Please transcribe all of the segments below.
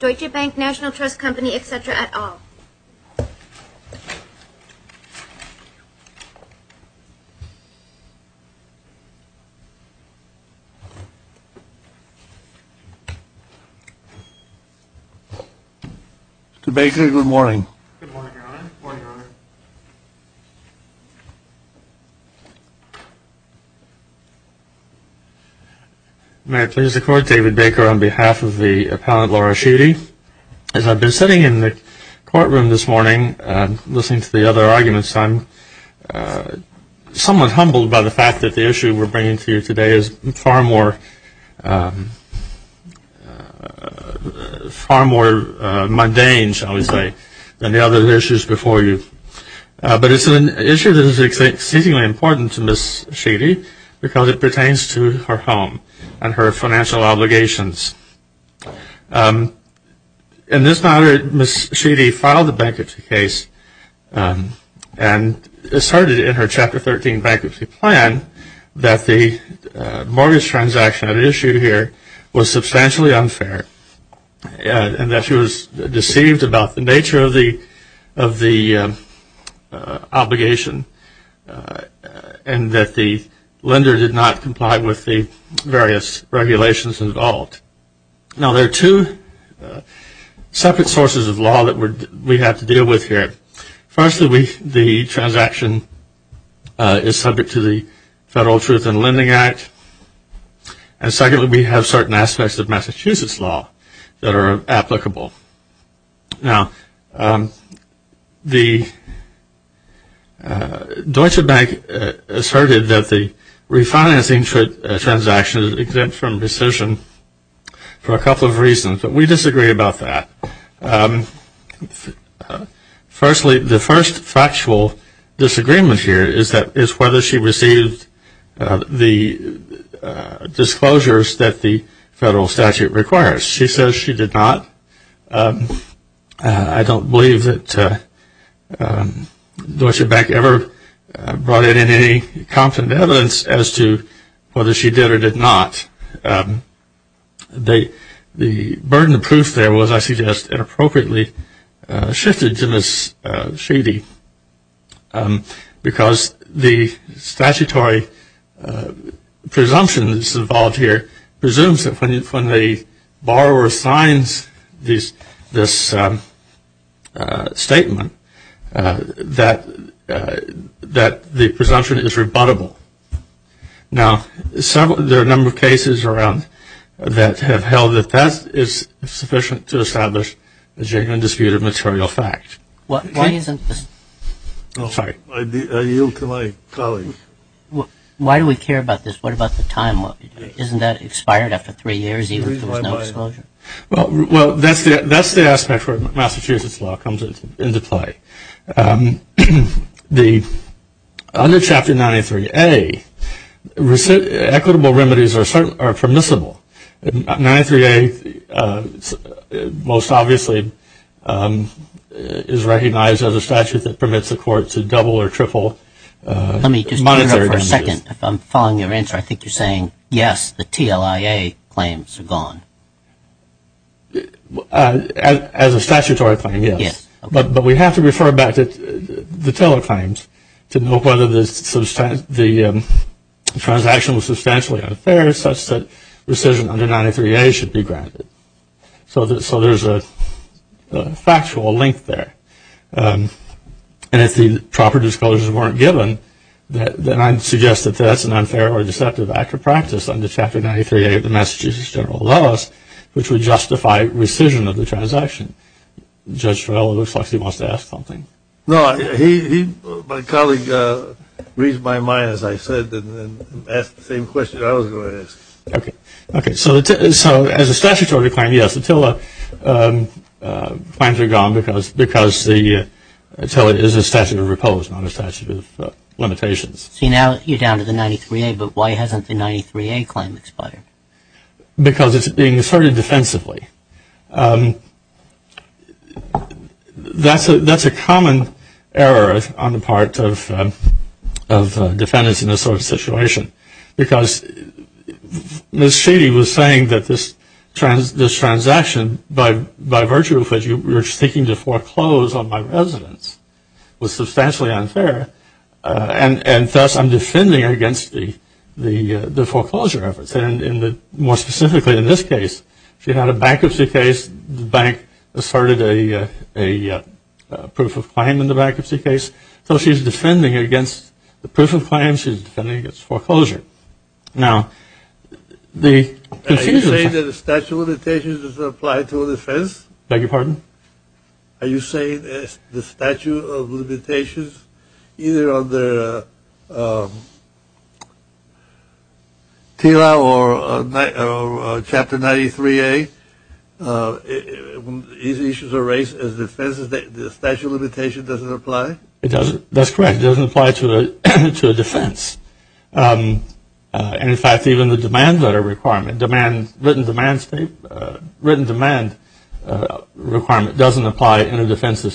etc. at all. Mr. Baker, good morning. Good morning, Your Honor. May I please record, David Baker on behalf of the appellant Laura Sheedy. As I've been sitting in the courtroom this morning listening to the other arguments, I'm somewhat humbled by the fact that the issue we're bringing to you today is far more mundane, shall we say, than the other issues before you. But it's an issue that is exceedingly important to Ms. Sheedy because it pertains to her home and her financial obligations. In this matter, Ms. Sheedy filed a bankruptcy case and asserted in her Chapter 13 bankruptcy plan that the mortgage transaction at issue here was substantially unfair and that she was deceived about the nature of the obligation and that the lender did not comply with the various regulations involved. Now, there are two separate sources of law that we have to deal with here. Firstly, the transaction is subject to the Federal Truth in Lending Act. And secondly, we have certain aspects of Massachusetts law that are applicable. Now, the Deutsche Bank asserted that the refinancing transaction is exempt from rescission for a couple of reasons, but we disagree about that. Firstly, the first factual disagreement here is whether she received the disclosures that the Federal Statute requires. She says she did not. I don't believe that Deutsche Bank ever brought in any confident evidence as to whether she did or did not. The burden of proof there was, I suggest, inappropriately shifted to Ms. Sheedy because the statutory presumptions involved here presumes that when the borrower signs this statement, that the presumption is rebuttable. Now, there are a number of cases around that have held that that is sufficient to establish a genuine dispute of material fact. Why isn't this... Oh, sorry. I yield to my colleague. Why do we care about this? What about the time? Isn't that expired after three years even if there was no disclosure? Well, that's the aspect where Massachusetts law comes into play. Under Chapter 93A, equitable remedies are permissible. 93A most obviously is recognized as a statute that permits a court to double or triple... Let me just interrupt for a second. If I'm following your answer, I think you're saying yes, the TLIA claims are gone. As a statutory claim, yes. But we have to refer back to the Teller claims to know whether the transaction was substantially unfair such that rescission under 93A should be granted. So there's a factual link there. And if the proper disclosures weren't given, then I'd suggest that that's an unfair or deceptive act of practice under Chapter 93A of the Massachusetts General Laws, which would justify rescission of the transaction. Judge Torello, it looks like he wants to ask something. No, my colleague reads my mind, as I said, and asked the same question I was going to ask. Okay, so as a statutory claim, yes, the TLIA claims are gone because the TLIA is a statute of repose, not a statute of limitations. See, now you're down to the 93A, but why hasn't the 93A claim expired? Because it's being asserted defensively. That's a common error on the part of defendants in this sort of situation. Because Ms. Sheedy was saying that this transaction, by virtue of which you were seeking to foreclose on my residence, was substantially unfair, and thus I'm defending against the foreclosure efforts. And more specifically in this case, she had a bankruptcy case, the bank asserted a proof of claim in the bankruptcy case. So she's defending against the proof of claim, she's defending against foreclosure. Now, the confusion… Are you saying that the statute of limitations doesn't apply to a defense? Beg your pardon? Are you saying that the statute of limitations, either on the TLIA or Chapter 93A, these issues are raised as defenses, the statute of limitations doesn't apply? That's correct. It doesn't apply to a defense. And in fact, even the written demand requirement doesn't apply in a defensive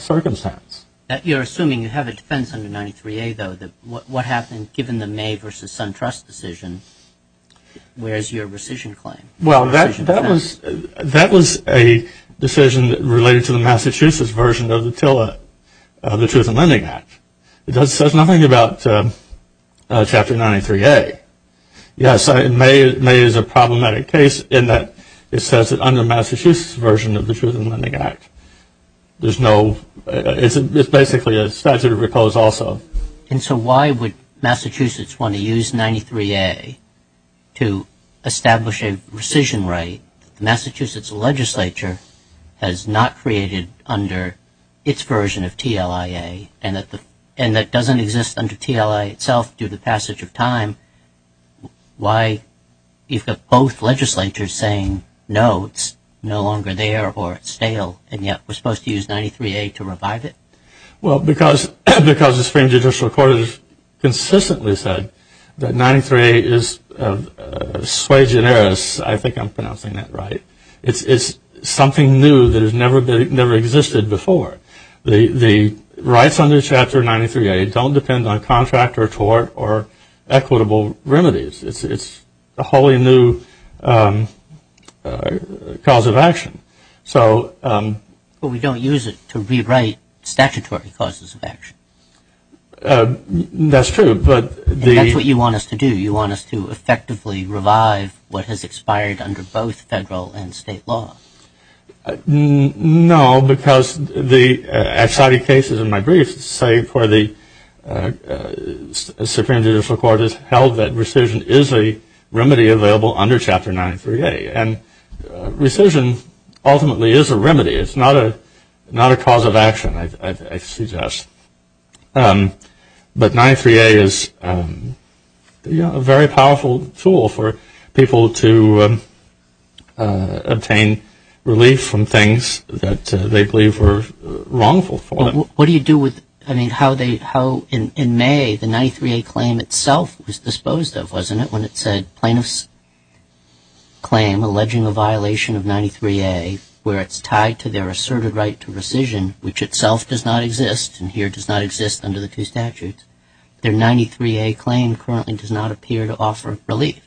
circumstance. You're assuming you have a defense under 93A, though. What happened, given the May v. SunTrust decision, where's your rescission claim? Well, that was a decision related to the Massachusetts version of the Truth in Lending Act. It says nothing about Chapter 93A. Yes, May is a problematic case in that it says that under the Massachusetts version of the Truth in Lending Act, there's no… It's basically a statute of recourse also. And so why would Massachusetts want to use 93A to establish a rescission right that the Massachusetts legislature has not created under its version of TLIA and that doesn't exist under TLIA itself due to passage of time? Why you've got both legislatures saying, no, it's no longer there or it's stale, and yet we're supposed to use 93A to revive it? Well, because the Supreme Judicial Court has consistently said that 93A is sui generis. I think I'm pronouncing that right. It's something new that has never existed before. The rights under Chapter 93A don't depend on contract or tort or equitable remedies. It's a wholly new cause of action. But we don't use it to rewrite statutory causes of action. That's true, but the… And that's what you want us to do. You want us to effectively revive what has expired under both federal and state law. No, because the exciting cases in my brief say for the Supreme Judicial Court has held that rescission is a remedy available under Chapter 93A. And rescission ultimately is a remedy. It's not a cause of action, I suggest. But 93A is a very powerful tool for people to obtain relief from things that they believe were wrongful for them. What do you do with… I mean, how in May the 93A claim itself was disposed of, wasn't it, when it said plaintiff's claim alleging a violation of 93A where it's tied to their asserted right to rescission, which itself does not exist and here does not exist under the two statutes. Their 93A claim currently does not appear to offer relief.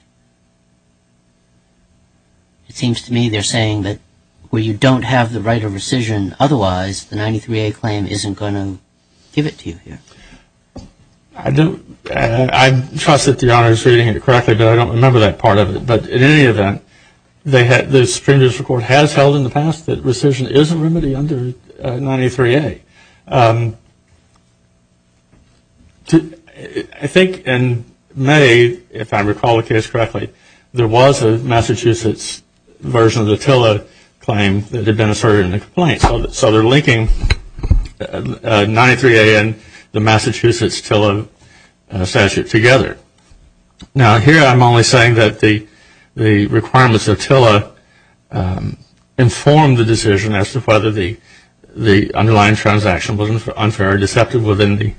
It seems to me they're saying that where you don't have the right of rescission otherwise, the 93A claim isn't going to give it to you here. I don't… I trust that the honor is reading it correctly, but I don't remember that part of it. But in any event, the Supreme Judicial Court has held in the past that rescission is a remedy under 93A. I think in May, if I recall the case correctly, there was a Massachusetts version of the Attila claim that had been asserted in the complaint. So they're linking 93A and the Massachusetts Attila statute together. Now here I'm only saying that the requirements of Attila inform the decision as to whether the underlying transaction was unfair or deceptive within the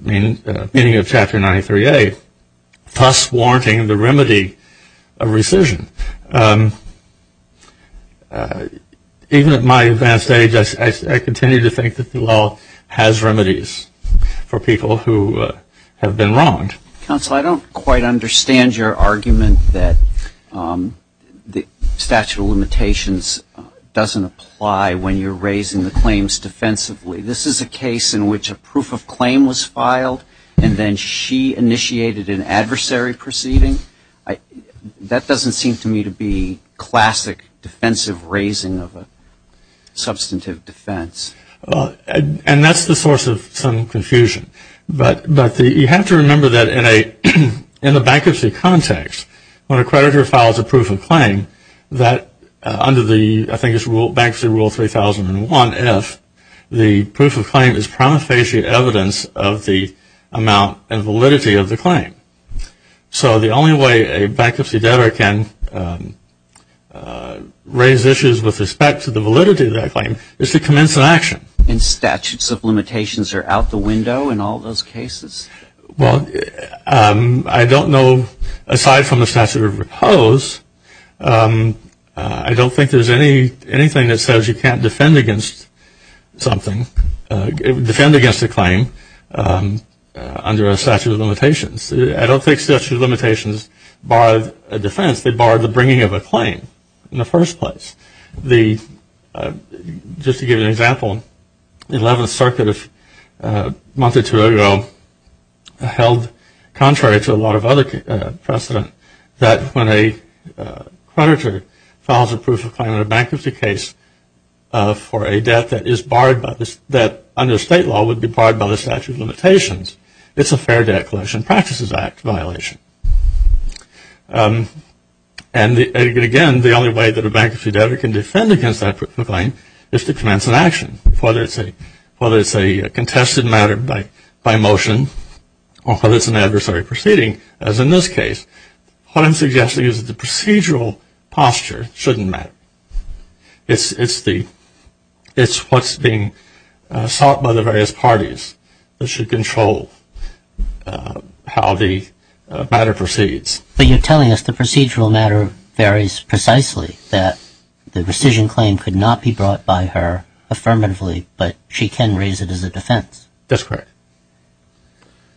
meaning of Chapter 93A, thus warranting the remedy of rescission. Even at my advanced age, I continue to think that the law has remedies for people who have been wronged. Counsel, I don't quite understand your argument that the statute of limitations doesn't apply when you're raising the claims defensively. This is a case in which a proof of claim was filed and then she initiated an adversary proceeding. That doesn't seem to me to be classic defensive raising of a substantive defense. And that's the source of some confusion. But you have to remember that in the bankruptcy context, when a creditor files a proof of claim that under the, I think it's Bankruptcy Rule 3001F, the proof of claim is promiscuous evidence of the amount and validity of the claim. So the only way a bankruptcy debtor can raise issues with respect to the validity of that claim is to commence an action. And statutes of limitations are out the window in all those cases? Well, I don't know, aside from the statute of repose, I don't think there's anything that says you can't defend against something, defend against a claim under a statute of limitations. I don't think statute of limitations bar a defense. They bar the bringing of a claim in the first place. Just to give you an example, the 11th Circuit a month or two ago held contrary to a lot of other precedent that when a creditor files a proof of claim in a bankruptcy case for a debt that is barred by this, that under state law would be barred by the statute of limitations, it's a Fair Debt Collection Practices Act violation. And again, the only way that a bankruptcy debtor can defend against that proof of claim is to commence an action. Whether it's a contested matter by motion or whether it's an adversary proceeding, as in this case, what I'm suggesting is that the procedural posture shouldn't matter. It's what's being sought by the various parties that should control how the matter proceeds. But you're telling us the procedural matter varies precisely, that the rescission claim could not be brought by her affirmatively, but she can raise it as a defense. That's correct.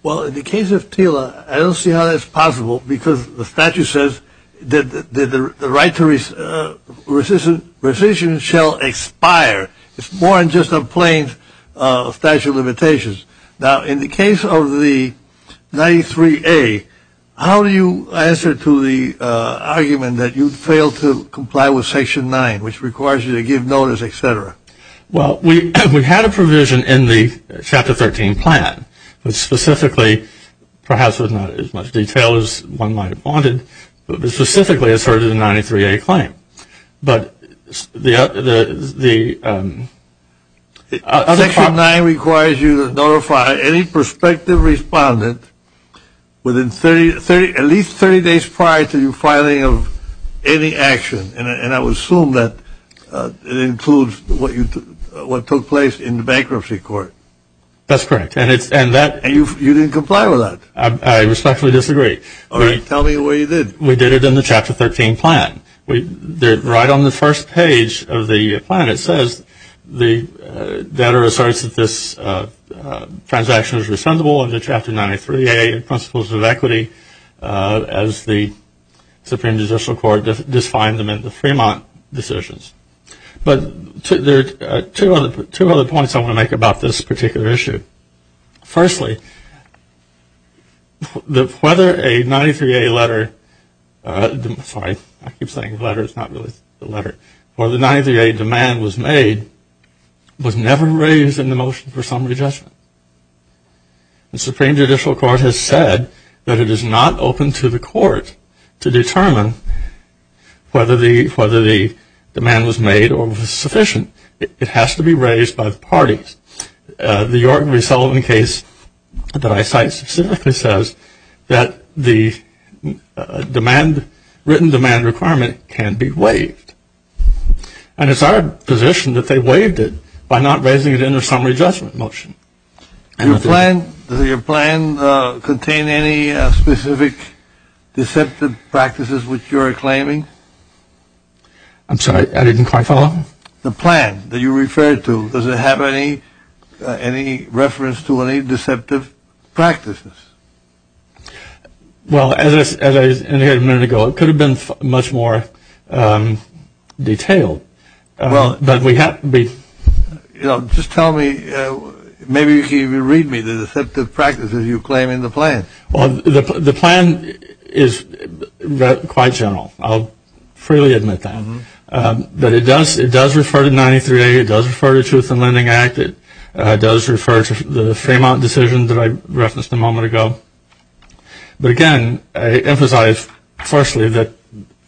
Well, in the case of TILA, I don't see how that's possible because the statute says that the right to rescission shall expire. It's more than just a plain statute of limitations. Now, in the case of the 93A, how do you answer to the argument that you failed to comply with Section 9, which requires you to give notice, etc.? Well, we had a provision in the Chapter 13 plan that specifically, perhaps with not as much detail as one might have wanted, but specifically asserted a 93A claim. But the... Section 9 requires you to notify any prospective respondent within at least 30 days prior to your filing of any action. And I would assume that it includes what took place in the bankruptcy court. That's correct. And you didn't comply with that? I respectfully disagree. All right. Tell me where you did. We did it in the Chapter 13 plan. Right on the first page of the plan, it says the debtor asserts that this transaction is responsible under Chapter 93A and principles of equity as the Supreme Judicial Court defined them in the Fremont decisions. But there are two other points I want to make about this particular issue. Firstly, whether a 93A letter... I keep saying letter, it's not really a letter. Whether a 93A demand was made was never raised in the motion for summary judgment. The Supreme Judicial Court has said that it is not open to the court to determine whether the demand was made or was sufficient. It has to be raised by the parties. The York v. Sullivan case that I cite specifically says that the written demand requirement can be waived. And it's our position that they waived it by not raising it in the summary judgment motion. Does your plan contain any specific deceptive practices which you are claiming? I'm sorry, I didn't quite follow. The plan that you referred to, does it have any reference to any deceptive practices? Well, as I indicated a minute ago, it could have been much more detailed. But we have to be... Just tell me, maybe you can even read me the deceptive practices you claim in the plan. The plan is quite general. I'll freely admit that. But it does refer to 93A, it does refer to the Truth in Lending Act, it does refer to the Fremont decision that I referenced a moment ago. But again, I emphasize firstly that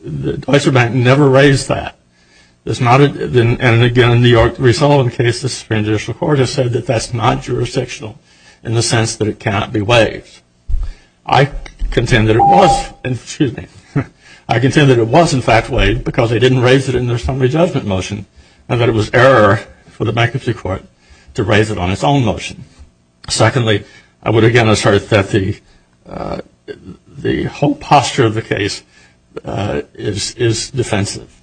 the Deutsche Bank never raised that. And again, in the York v. Sullivan case, the Supreme Judicial Court has said that that's not jurisdictional in the sense that it cannot be waived. I contend that it was, excuse me, I contend that it was in fact waived because they didn't raise it in their summary judgment motion, and that it was error for the bankruptcy court to raise it on its own motion. Secondly, I would again assert that the whole posture of the case is defensive.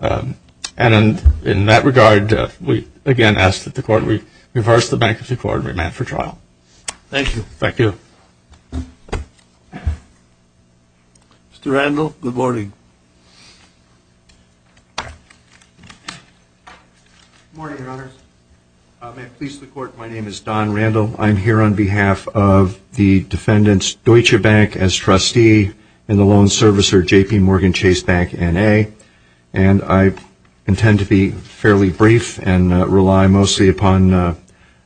And in that regard, we again ask that the Court reverse the bankruptcy court and remand for trial. Thank you. Thank you. Good morning, Your Honors. May it please the Court, my name is Don Randall. I'm here on behalf of the defendants, Deutsche Bank as trustee and the loan servicer, J.P. Morgan Chase Bank, N.A. And I intend to be fairly brief and rely mostly upon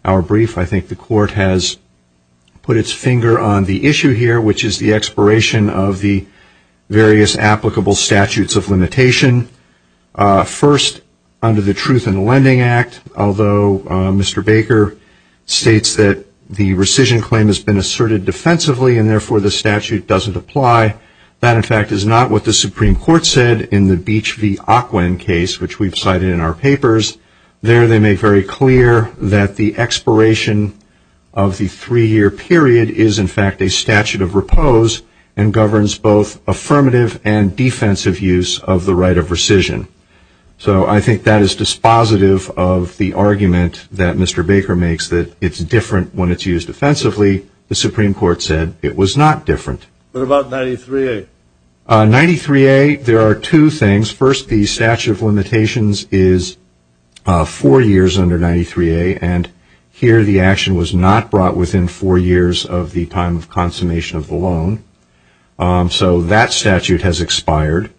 our brief. I think the Court has put its finger on the issue here, which is the expiration of the various applicable statutes of limitation. First, under the Truth in Lending Act, although Mr. Baker states that the rescission claim has been asserted defensively and therefore the statute doesn't apply, that in fact is not what the Supreme Court said in the Beach v. Ocwen case, which we've cited in our papers. There they make very clear that the expiration of the three-year period is in fact a statute of repose and governs both affirmative and defensive use of the right of rescission. So I think that is dispositive of the argument that Mr. Baker makes that it's different when it's used offensively. The Supreme Court said it was not different. What about 93A? 93A, there are two things. First, the statute of limitations is four years under 93A, and here the action was not brought within four years of the time of consummation of the loan. So that statute has expired.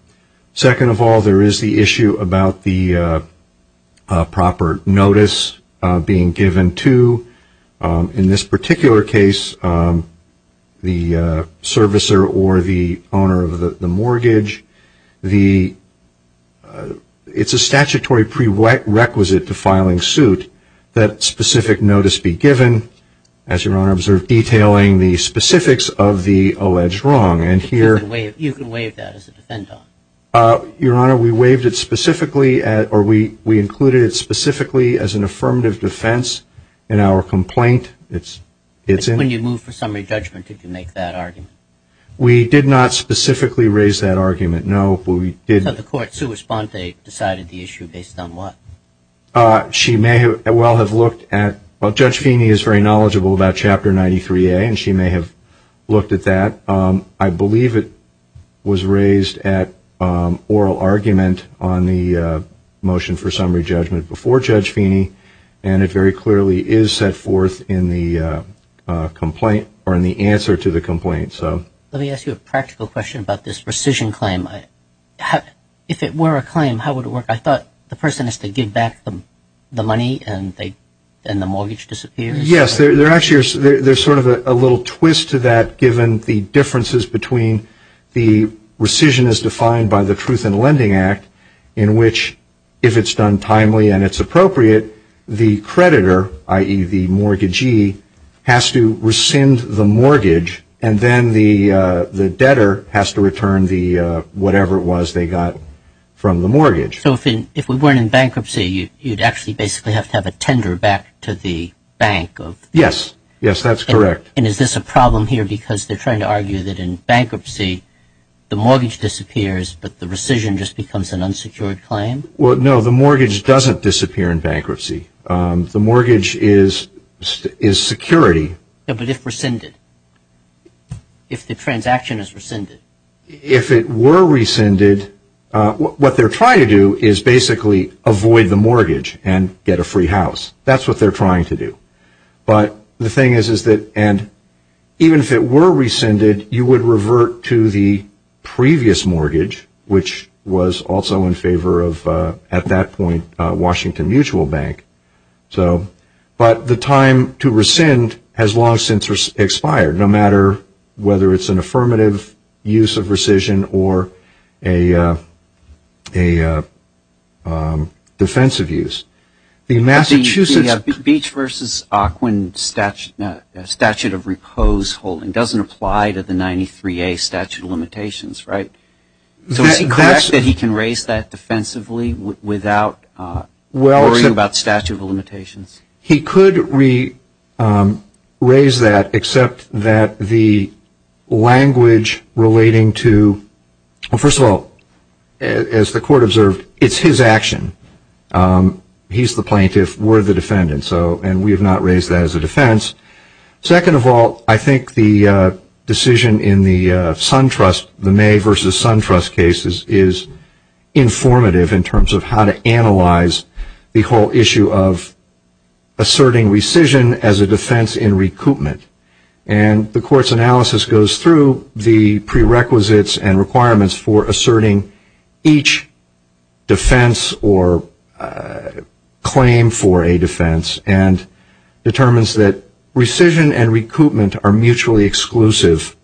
Second of all, there is the issue about the proper notice being given to, in this particular case, the servicer or the owner of the mortgage. It's a statutory prerequisite to filing suit that specific notice be given, as Your Honor observed, detailing the specifics of the alleged wrong. You can waive that as a defendant. Your Honor, we included it specifically as an affirmative defense in our complaint. When you moved for summary judgment, did you make that argument? We did not specifically raise that argument, no. So the court sua sponte decided the issue based on what? Judge Feeney is very knowledgeable about Chapter 93A, and she may have looked at that. I believe it was raised at oral argument on the motion for summary judgment before Judge Feeney, and it very clearly is set forth in the answer to the complaint. Let me ask you a practical question about this rescission claim. If it were a claim, how would it work? I thought the person has to give back the money and the mortgage disappears. Yes, there's sort of a little twist to that given the differences between the rescission as defined by the Truth in Lending Act, in which if it's done timely and it's appropriate, the creditor, i.e. the mortgagee, has to rescind the mortgage, and then the debtor has to return whatever it was they got from the mortgage. you'd actually basically have to have a tender back to the bank. Yes, that's correct. And is this a problem here because they're trying to argue that in bankruptcy the mortgage disappears, but the rescission just becomes an unsecured claim? No, the mortgage doesn't disappear in bankruptcy. The mortgage is security. But if rescinded? If the transaction is rescinded? If it were rescinded, what they're trying to do is basically avoid the mortgage and get a free house. That's what they're trying to do. But the thing is, even if it were rescinded, you would revert to the previous mortgage, which was also in favor of, at that point, Washington Mutual Bank. But the time to rescind has long since expired, no matter whether it's an affirmative use of rescission or a defensive use. The Beach v. Ocwen statute of repose holding doesn't apply to the 93A statute of limitations, right? So is it correct that he can raise that defensively without worrying about statute of limitations? He could raise that, except that the language relating to, first of all, as the court observed, it's his action. He's the plaintiff. We're the defendant. And we have not raised that as a defense. Second of all, I think the decision in the SunTrust, the May v. SunTrust cases, is informative in terms of how to analyze the whole issue of asserting rescission as a defense in recoupment. And the court's analysis goes through the prerequisites and requirements for asserting each defense or claim for a defense and determines that rescission and recoupment are mutually exclusive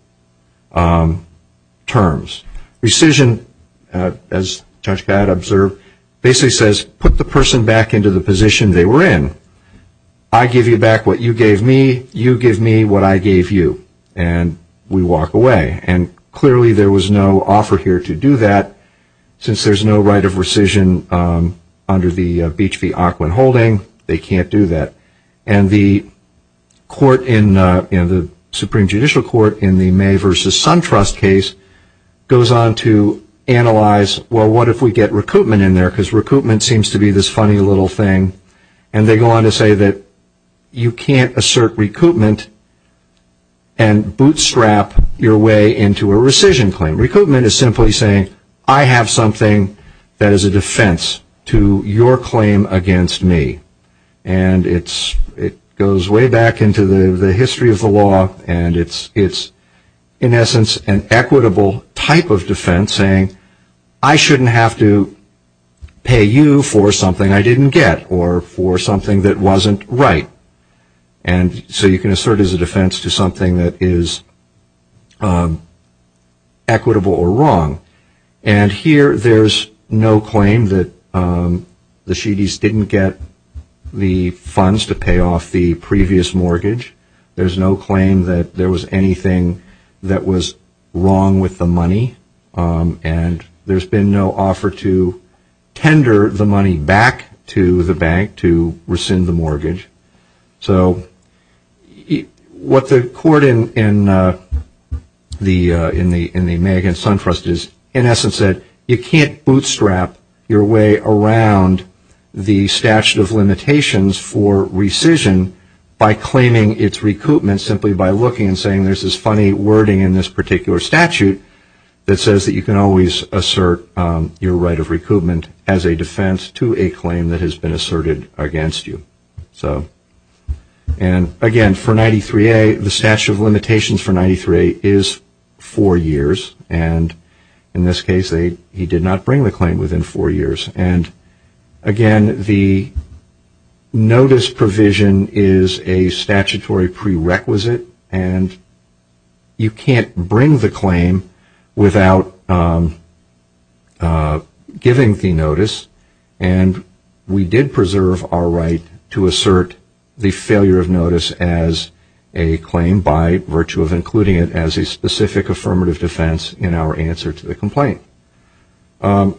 terms. Rescission, as Judge Gadd observed, basically says, put the person back into the position they were in. I give you back what you gave me. You give me what I gave you. And we walk away. And clearly there was no offer here to do that. Since there's no right of rescission under the Beach v. Aquin holding, they can't do that. And the Supreme Judicial Court in the May v. SunTrust case goes on to analyze, well, what if we get recoupment in there? Because recoupment seems to be this funny little thing. And they go on to say that you can't assert recoupment and bootstrap your way into a rescission claim. Recoupment is simply saying, I have something that is a defense to your claim against me. And it goes way back into the history of the law and it's, in essence, an equitable type of defense saying, I shouldn't have to pay you for something I didn't get or for something that wasn't right. And so you can assert as a defense to something that is equitable or wrong. And here there's no claim that the Shedes didn't get the funds to pay off the previous mortgage. There's no claim that there was anything that was wrong with the money. And there's been no offer to tender the money back to the bank to rescind the mortgage. So what the court in the May against SunTrust is, in essence, that you can't bootstrap your way around the statute of limitations for rescission by claiming its recoupment simply by looking and saying, there's this funny wording in this particular statute that says that you can always assert your right of recoupment as a defense to a claim that has been asserted against you. And again, for 93A, the statute of limitations for 93A is four years. And in this case, he did not bring the claim within four years. And again, the notice provision is a statutory prerequisite and you can't bring the claim without giving the notice. And we did preserve our right to assert the failure of notice as a claim by virtue of including it as a specific affirmative defense in our answer to the complaint. Well,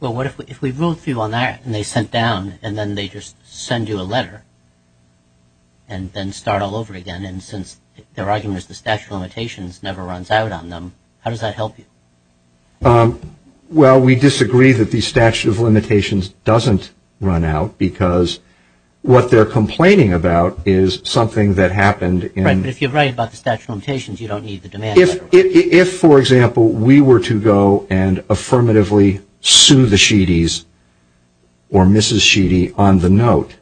what if we wrote to you on that and they sent down and then they just send you a letter and then start all over again and since their argument is the statute of limitations never runs out on them, how does that help you? Well, we disagree that the statute of limitations doesn't run out because what they're complaining about is something that happened in... Right, but if you're right about the statute of limitations, you don't need the demand letter. If, for example, we were to go and affirmatively sue the Sheedys or Mrs. Sheedy on the note,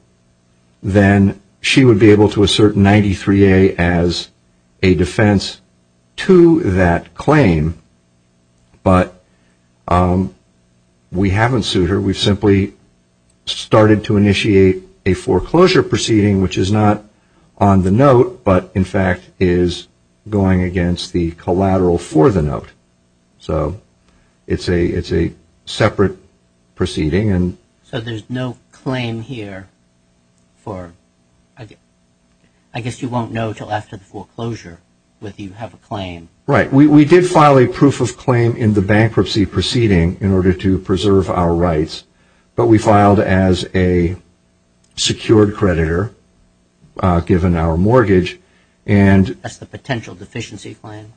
then she would be able to assert 93A as a defense to that claim. But we haven't sued her. We've simply started to initiate a foreclosure proceeding which is not on the note but in fact is going against the collateral for the note. So it's a separate proceeding. So there's no claim here for... I guess you won't know until after the foreclosure whether you have a claim. Right, we did file a proof of claim in the bankruptcy proceeding in order to preserve our rights but we filed as a secured creditor given our mortgage and... That's the potential deficiency claim.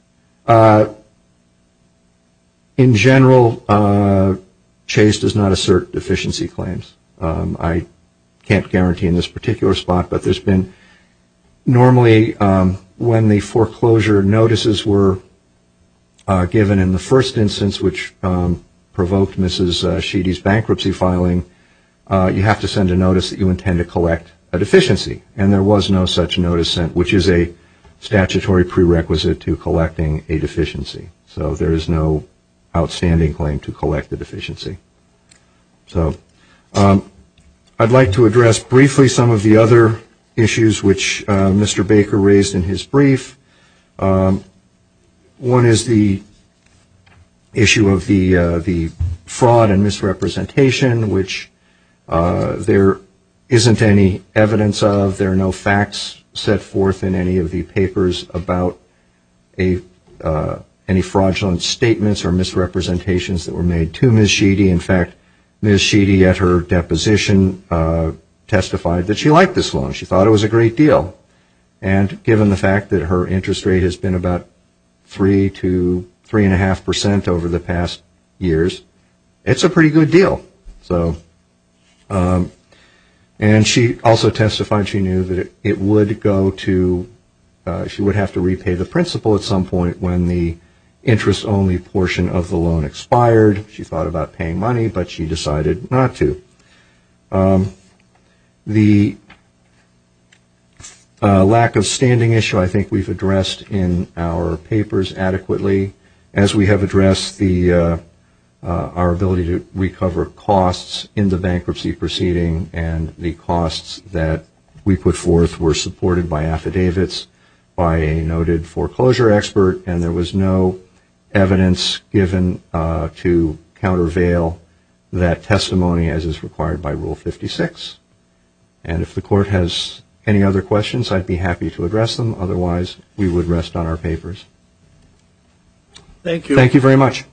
In general, Chase does not assert deficiency claims. I can't guarantee in this particular spot but there's been... Normally when the foreclosure notices were given in the first instance which provoked Mrs. Sheedy's bankruptcy filing, you have to send a notice that you intend to collect a deficiency and there was no such notice sent which is a statutory prerequisite to collecting a deficiency. So there is no outstanding claim to collect a deficiency. So I'd like to address briefly some of the other issues which Mr. Baker raised in his brief. One is the issue of the fraud and misrepresentation which there isn't any evidence of. There are no facts set forth in any of the papers about any fraudulent statements or misrepresentations that were made to Mrs. Sheedy. In fact, Mrs. Sheedy at her deposition testified that she liked this loan. She thought it was a great deal and given the fact that her interest rate has been about 3% to 3.5% over the past years, it's a pretty good deal. And she also testified she knew that it would go to... She would have to repay the principal at some point when the interest-only portion of the loan expired. She thought about paying money, but she decided not to. The lack of standing issue I think we've addressed in our papers adequately. As we have addressed our ability to recover costs in the bankruptcy proceeding and the costs that we put forth were supported by affidavits, by a noted foreclosure expert, and there was no evidence given to countervail that testimony as is required by Rule 56. And if the Court has any other questions, I'd be happy to address them. Otherwise, we would rest on our papers. Thank you very much.